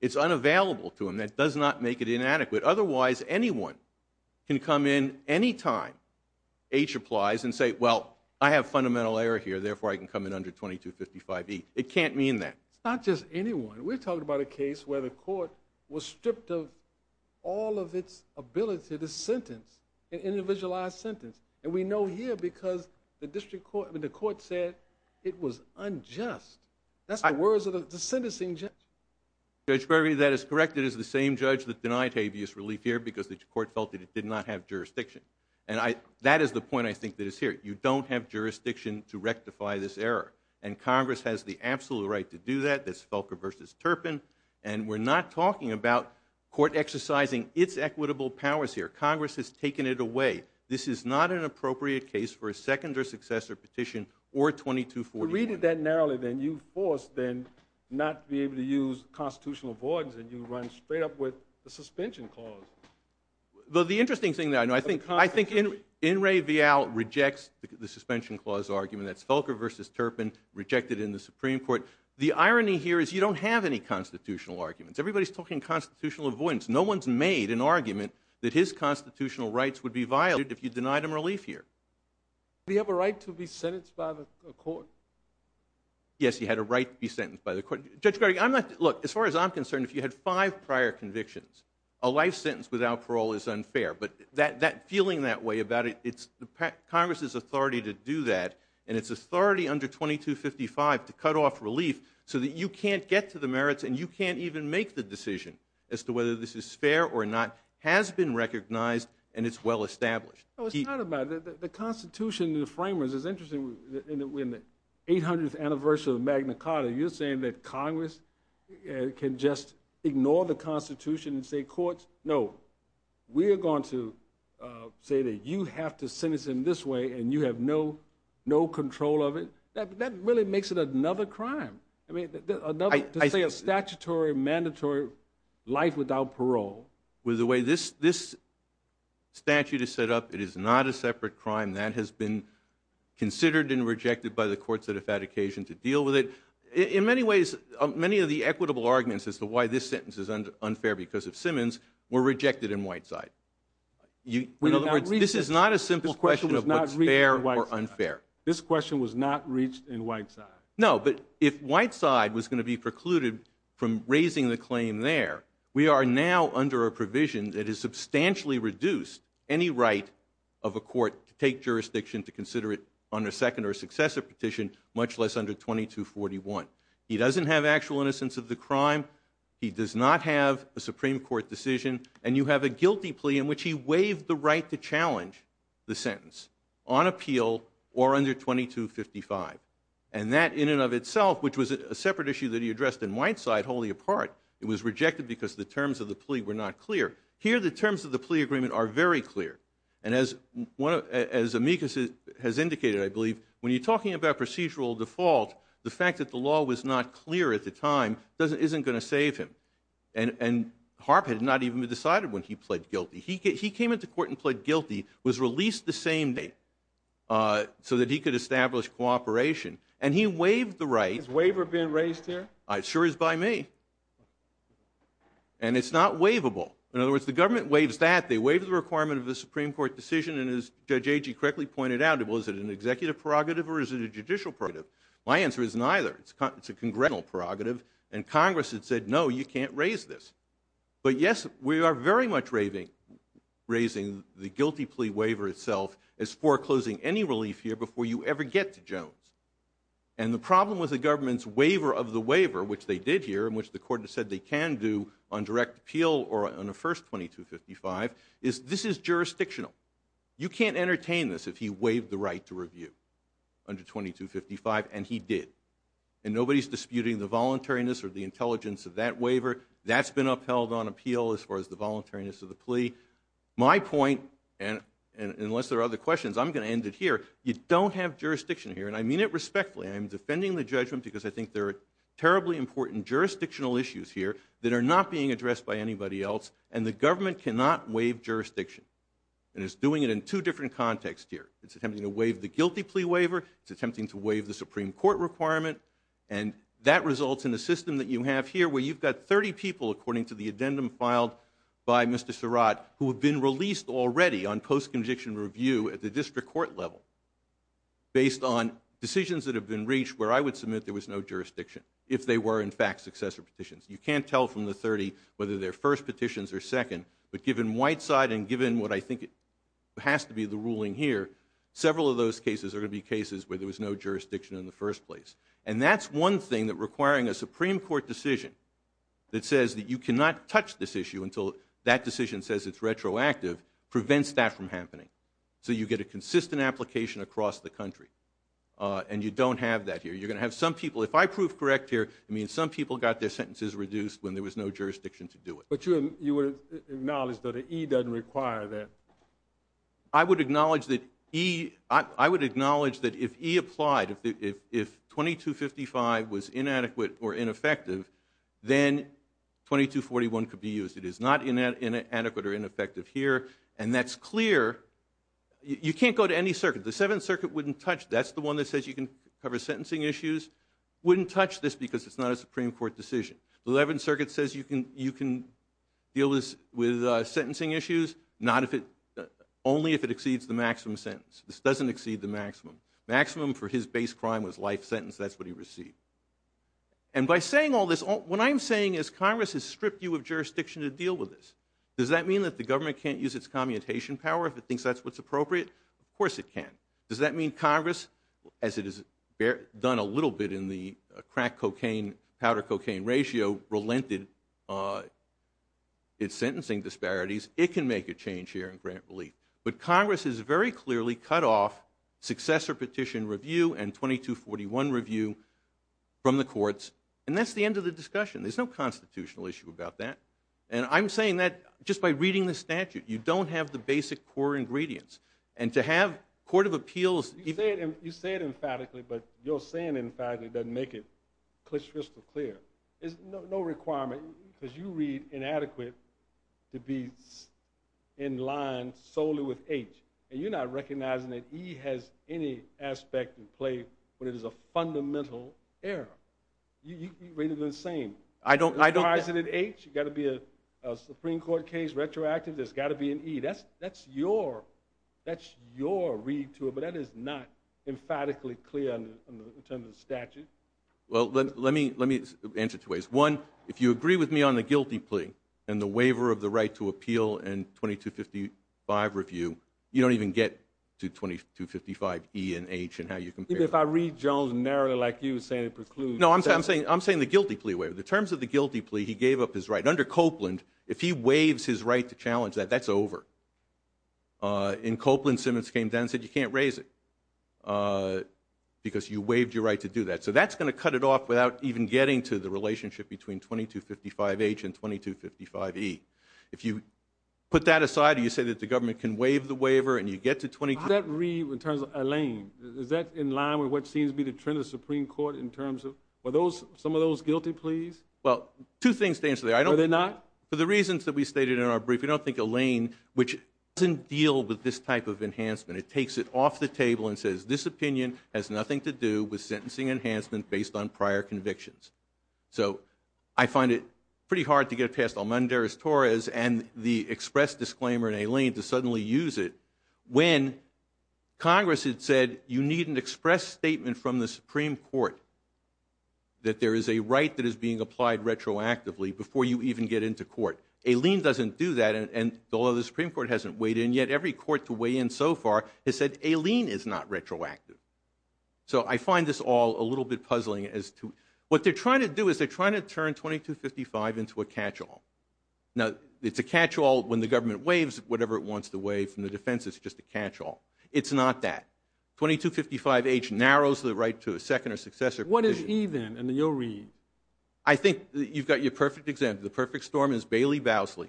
It's unavailable to him. That does not make it inadequate. Otherwise, anyone can come in any time, H applies, and say, well, I have fundamental error here, therefore I can come in under 2255E. It can't mean that. It's not just anyone. We're talking about a case where the court was stripped of all of its ability to sentence an individualized sentence, and we know here because the court said it was unjust. That's the words of the sentencing judge. Judge Berry, that is correct. It is the same judge that denied habeas relief here because the court felt that it did not have jurisdiction. That is the point I think that is here. You don't have jurisdiction to rectify this error, and Congress has the absolute right to do that. That's Felker v. Turpin, and we're not talking about court exercising its equitable powers here. Congress has taken it away. This is not an appropriate case for a second or successor petition or 2245E. You read it that narrowly, then. You force, then, not to be able to use constitutional avoidance, and you run straight up with the suspension clause. The interesting thing, though, I think Enrique Vial rejects the suspension clause argument. That's Felker v. Turpin, rejected in the Supreme Court. The irony here is you don't have any constitutional arguments. Everybody's talking constitutional avoidance. No one's made an argument that his constitutional rights would be violated if you denied him relief here. Did he have a right to be sentenced by the court? Yes, he had a right to be sentenced by the court. Judge Berry, look, as far as I'm concerned, if you had five prior convictions, a life sentence without parole is unfair, but feeling that way about it, it's Congress's authority to do that, and it's authority under 2255 to cut off relief so that you can't get to the merits and you can't even make the decision as to whether this is fair or not, has been recognized, and it's well established. It's not about that. The Constitution, the framers, it's interesting. We're in the 800th anniversary of Magna Carta. You're saying that Congress can just ignore the Constitution and say courts? No. We are going to say that you have to sentence him this way, and you have no control of it. That really makes it another crime. I mean, to say a statutory, mandatory life without parole. With the way this statute is set up, it is not a separate crime. That has been considered and rejected by the courts that have had occasion to deal with it. In many ways, many of the equitable arguments as to why this sentence is unfair because of Simmons were rejected in Whiteside. In other words, this is not a simple question of what's fair or unfair. This question was not reached in Whiteside. No, but if Whiteside was going to be precluded from raising the claim there, we are now under a provision that has substantially reduced any right of a court to take jurisdiction to consider it under a second or successor petition, much less under 2241. He doesn't have actual innocence of the crime. He does not have a Supreme Court decision. And you have a guilty plea in which he waived the right to challenge the sentence on appeal or under 2255. And that, in and of itself, which was a separate issue that he addressed in Whiteside, wholly apart, it was rejected because the terms of the plea were not clear. Here, the terms of the plea agreement are very clear. And as Amicus has indicated, I believe, when you're talking about procedural default, the fact that the law was not clear at the time isn't going to save him. And Harp had not even been decided when he pled guilty. He came into court and pled guilty, was released the same day, so that he could establish cooperation. And he waived the right. Has waiver been raised here? It sure is by me. And it's not waivable. In other words, the government waives that. They waive the requirement of the Supreme Court decision. And as Judge Agee correctly pointed out, was it an executive prerogative or is it a judicial prerogative? My answer is neither. It's a congressional prerogative. And Congress had said, no, you can't raise this. But, yes, we are very much raising the guilty plea waiver itself as foreclosing any relief here before you ever get to Jones. And the problem with the government's waiver of the waiver, which they did here and which the court said they can do on direct appeal or on a first 2255, is this is jurisdictional. You can't entertain this if he waived the right to review under 2255, and he did. And nobody's disputing the voluntariness or the intelligence of that waiver. That's been upheld on appeal as far as the voluntariness of the plea. My point, and unless there are other questions, I'm going to end it here. You don't have jurisdiction here, and I mean it respectfully. I'm defending the judgment because I think there are terribly important jurisdictional issues here that are not being addressed by anybody else, and the government cannot waive jurisdiction. And it's doing it in two different contexts here. It's attempting to waive the guilty plea waiver. It's attempting to waive the Supreme Court requirement, and that results in a system that you have here where you've got 30 people, according to the addendum filed by Mr. Surratt, who have been released already on post-conviction review at the district court level based on decisions that have been reached where I would submit there was no jurisdiction if they were, in fact, successor petitions. You can't tell from the 30 whether they're first petitions or second, but given Whiteside and given what I think has to be the ruling here, several of those cases are going to be cases where there was no jurisdiction in the first place. And that's one thing that requiring a Supreme Court decision that says that you cannot touch this issue until that decision says it's retroactive prevents that from happening. So you get a consistent application across the country, and you don't have that here. You're going to have some people. If I prove correct here, it means some people got their sentences reduced when there was no jurisdiction to do it. But you would acknowledge that an E doesn't require that. I would acknowledge that if E applied, if 2255 was inadequate or ineffective, then 2241 could be used. It is not inadequate or ineffective here, and that's clear. You can't go to any circuit. The Seventh Circuit wouldn't touch. That's the one that says you can cover sentencing issues. Wouldn't touch this because it's not a Supreme Court decision. The Eleventh Circuit says you can deal with sentencing issues, only if it exceeds the maximum sentence. This doesn't exceed the maximum. Maximum for his base crime was life sentence. That's what he received. And by saying all this, what I'm saying is Congress has stripped you of jurisdiction to deal with this. Does that mean that the government can't use its commutation power if it thinks that's what's appropriate? Of course it can. Does that mean Congress, as it has done a little bit in the crack-cocaine-powder-cocaine ratio, has sort of relented its sentencing disparities? It can make a change here in grant relief. But Congress has very clearly cut off successor petition review and 2241 review from the courts, and that's the end of the discussion. There's no constitutional issue about that. And I'm saying that just by reading the statute. You don't have the basic core ingredients. And to have a court of appeals... You say it emphatically, but your saying it emphatically doesn't make it crystal clear. There's no requirement, because you read inadequate, to be in line solely with H. And you're not recognizing that E has any aspect in play when it is a fundamental error. You read it the same. As far as it is H, it's got to be a Supreme Court case, retroactive. There's got to be an E. That's your read to it, but that is not emphatically clear in terms of the statute. Well, let me answer it two ways. One, if you agree with me on the guilty plea and the waiver of the right to appeal and 2255 review, you don't even get to 2255 E and H and how you compare them. If I read Jones narrowly like you saying it precludes... No, I'm saying the guilty plea waiver. In terms of the guilty plea, he gave up his right. Under Copeland, if he waives his right to challenge that, that's over. In Copeland, Simmons came down and said you can't raise it because you waived your right to do that. So that's going to cut it off without even getting to the relationship between 2255 H and 2255 E. If you put that aside or you say that the government can waive the waiver and you get to 2255 E... How does that read in terms of Alain? Is that in line with what seems to be the trend of the Supreme Court in terms of some of those guilty pleas? Well, two things to answer there. Are they not? For the reasons that we stated in our brief, we don't think Alain, which doesn't deal with this type of enhancement, it takes it off the table and says this opinion has nothing to do with sentencing enhancement based on prior convictions. So I find it pretty hard to get past Almandarez-Torres and the express disclaimer in Alain to suddenly use it when Congress had said you need an express statement from the Supreme Court that there is a right that is being applied retroactively before you even get into court. Alain doesn't do that and although the Supreme Court hasn't weighed in yet, every court to weigh in so far has said Alain is not retroactive. So I find this all a little bit puzzling as to... What they're trying to do is they're trying to turn 2255 into a catch-all. Now, it's a catch-all when the government waives whatever it wants to waive from the defense. It's just a catch-all. It's not that. 2255H narrows the right to a second or successor provision. What is E then in your read? I think you've got your perfect example. The perfect storm is Bailey-Bowsley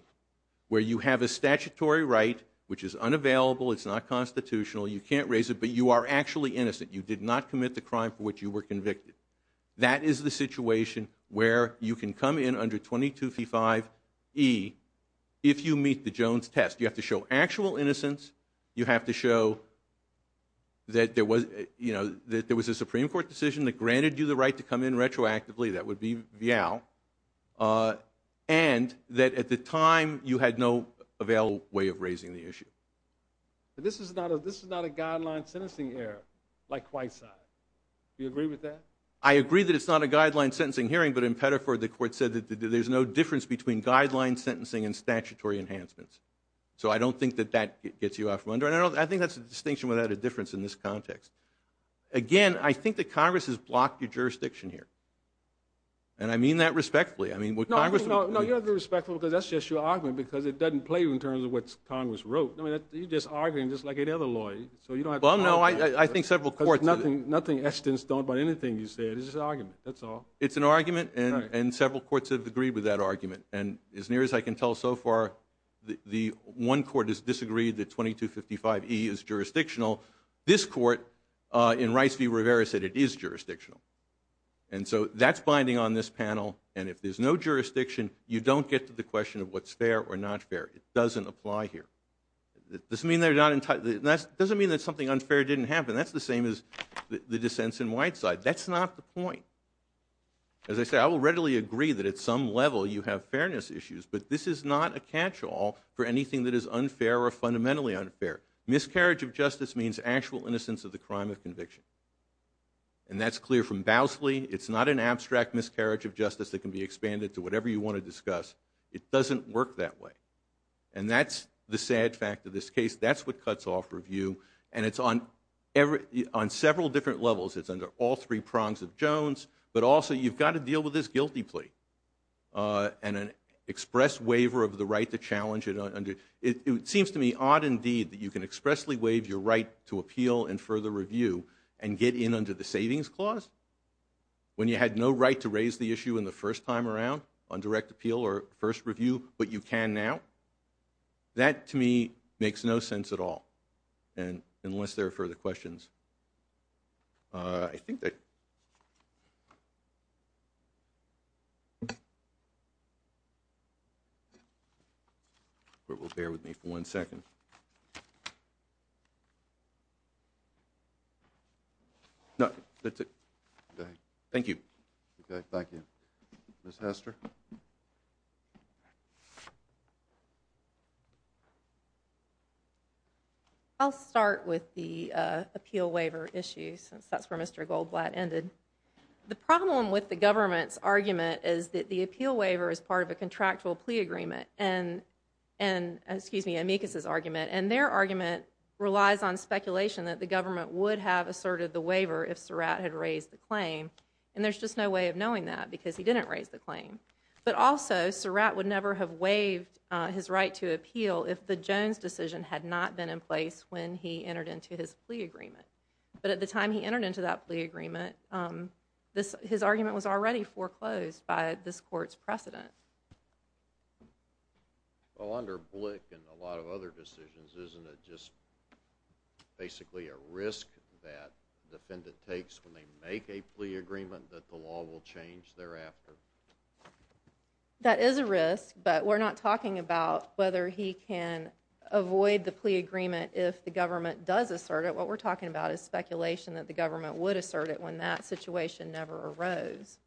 where you have a statutory right which is unavailable. It's not constitutional. You can't raise it, but you are actually innocent. You did not commit the crime for which you were convicted. That is the situation where you can come in under 2255E if you meet the Jones test. You have to show actual innocence. You have to show that there was a Supreme Court decision That would be Vial. And that at the time you had no available way of raising the issue. But this is not a guideline sentencing error like Whiteside. Do you agree with that? I agree that it's not a guideline sentencing hearing, but in Pettiford the court said that there's no difference between guideline sentencing and statutory enhancements. So I don't think that that gets you out from under it. I think that's a distinction without a difference in this context. Again, I think that Congress has blocked your jurisdiction here. And I mean that respectfully. No, you have to be respectful because that's just your argument because it doesn't play you in terms of what Congress wrote. You're just arguing just like any other lawyer. Well, no, I think several courts do that. Nothing Esten's done about anything you said. It's just an argument. That's all. It's an argument, and several courts have agreed with that argument. And as near as I can tell so far, the one court has disagreed that 2255E is jurisdictional. This court in Rice v. Rivera said it is jurisdictional. And so that's binding on this panel, and if there's no jurisdiction, you don't get to the question of what's fair or not fair. It doesn't apply here. It doesn't mean that something unfair didn't happen. That's the same as the dissents in Whiteside. That's not the point. As I said, I will readily agree that at some level you have fairness issues, but this is not a catch-all for anything that is unfair or fundamentally unfair. Miscarriage of justice means actual innocence of the crime of conviction. And that's clear from Bousley. It's not an abstract miscarriage of justice that can be expanded to whatever you want to discuss. It doesn't work that way. And that's the sad fact of this case. That's what cuts off review. And it's on several different levels. It's under all three prongs of Jones, but also you've got to deal with this guilty plea and an express waiver of the right to challenge it. It seems to me odd indeed that you can expressly waive your right to appeal and further review and get in under the savings clause when you had no right to raise the issue in the first time around on direct appeal or first review, but you can now. That, to me, makes no sense at all, unless there are further questions. I think that... Bear with me for one second. No, that's it. Go ahead. Thank you. Okay, thank you. Ms. Hester? I'll start with the appeal waiver issue, since that's where Mr. Goldblatt ended. The problem with the government's argument is that the appeal waiver is part of a contractual plea agreement and, excuse me, amicus' argument, and their argument relies on speculation that the government would have asserted the waiver if Surratt had raised the claim, and there's just no way of knowing that because he didn't raise the claim. But also, Surratt would never have waived his right to appeal if the Jones decision had not been in place when he entered into his plea agreement. But at the time he entered into that plea agreement, his argument was already foreclosed by this Court's precedent. Well, under Blick and a lot of other decisions, isn't it just basically a risk that the defendant takes when they make a plea agreement that the law will change thereafter? That is a risk, but we're not talking about whether he can avoid the plea agreement if the government does assert it. What we're talking about is speculation that the government would assert it when that situation never arose.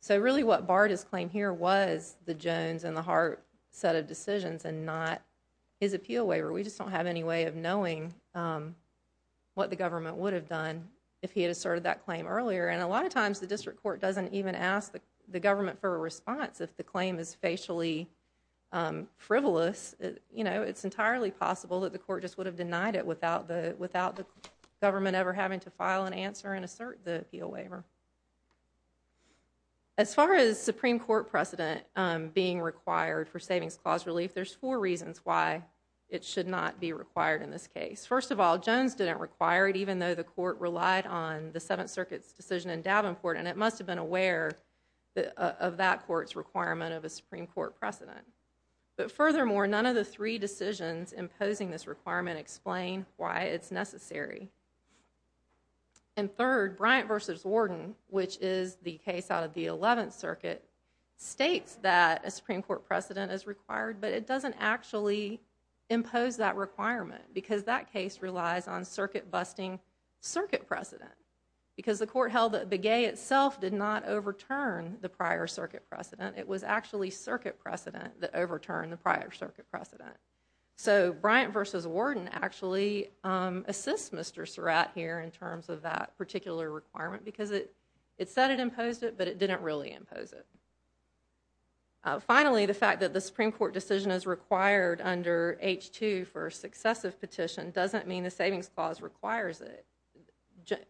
So really what barred his claim here was the Jones and the Hart set of decisions and not his appeal waiver. We just don't have any way of knowing what the government would have done if he had asserted that claim earlier. And a lot of times the district court doesn't even ask the government for a response if the claim is facially frivolous. You know, it's entirely possible that the court just would have denied it without the government ever having to file an answer and assert the appeal waiver. As far as Supreme Court precedent being required for savings clause relief, there's four reasons why it should not be required in this case. First of all, Jones didn't require it even though the court relied on the Seventh Circuit's decision in Davenport, and it must have been aware of that court's requirement of a Supreme Court precedent. But furthermore, none of the three decisions imposing this requirement explain why it's necessary. And third, Bryant v. Warden, which is the case out of the Eleventh Circuit, states that a Supreme Court precedent is required, but it doesn't actually impose that requirement because that case relies on circuit-busting circuit precedent because the court held that Begay itself did not overturn the prior circuit precedent. It was actually circuit precedent that overturned the prior circuit precedent. So Bryant v. Warden actually assists Mr. Surratt here in terms of that particular requirement because it said it imposed it, but it didn't really impose it. Finally, the fact that the Supreme Court decision is required under H-2 for a successive petition doesn't mean the savings clause requires it.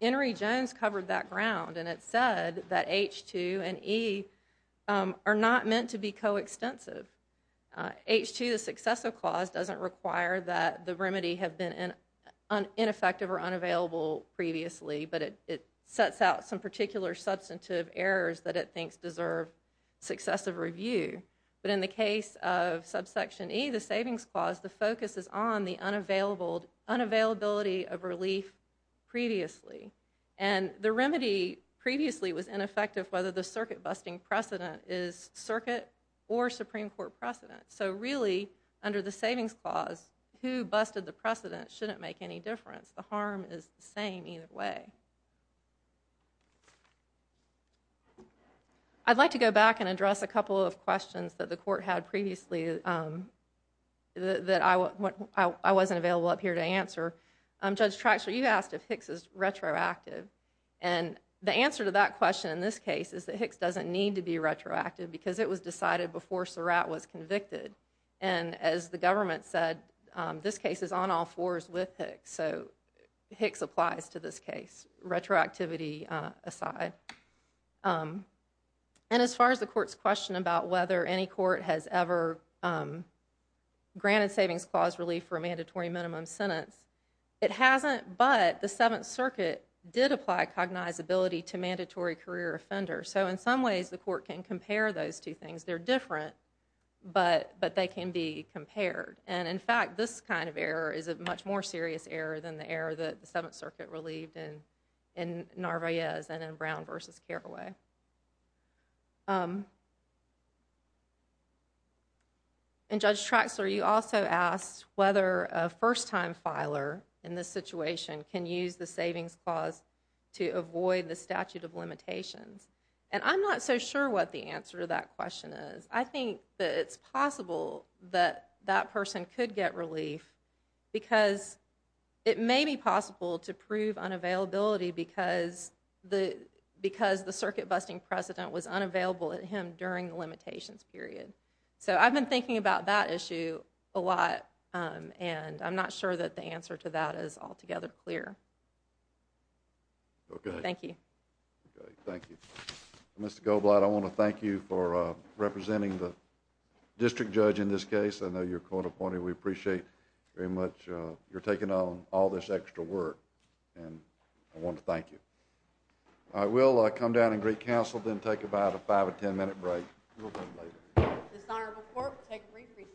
Henry Jones covered that ground, and it said that H-2 and E are not meant to be coextensive. H-2, the successive clause, doesn't require that the remedy have been ineffective or unavailable previously, but it sets out some particular substantive errors that it thinks deserve successive review. But in the case of subsection E, the savings clause, the focus is on the unavailability of relief previously. And the remedy previously was ineffective whether the circuit-busting precedent is circuit or Supreme Court precedent. So really, under the savings clause, who busted the precedent shouldn't make any difference. The harm is the same either way. I'd like to go back and address a couple of questions that the court had previously that I wasn't available up here to answer. Judge Traxler, you asked if Hicks is retroactive, and the answer to that question in this case is that Hicks doesn't need to be retroactive because it was decided before Surratt was convicted. And as the government said, this case is on all fours with Hicks, so Hicks applies to this case, retroactivity aside. And as far as the court's question about whether any court has ever granted savings clause relief for a mandatory minimum sentence, it hasn't, but the Seventh Circuit did apply cognizability to mandatory career offenders. So in some ways, the court can compare those two things. They're different, but they can be compared. And in fact, this kind of error is a much more serious error than the error that the Seventh Circuit relieved in Narvaez and in Brown v. Carraway. And Judge Traxler, you also asked whether a first-time filer in this situation can use the savings clause to avoid the statute of limitations. And I'm not so sure what the answer to that question is. I think that it's possible that that person could get relief because it may be possible to prove unavailability because the circuit-busting precedent was unavailable at him during the limitations period. So I've been thinking about that issue a lot, and I'm not sure that the answer to that is altogether clear. Okay. Thank you. Okay, thank you. Mr. Goldblatt, I want to thank you for representing the district judge in this case. I know you're co-appointed. We appreciate very much your taking on all this extra work, and I want to thank you. I will come down and greet counsel, then take about a five- or ten-minute break. We'll come later. This honorable court will take a brief recess.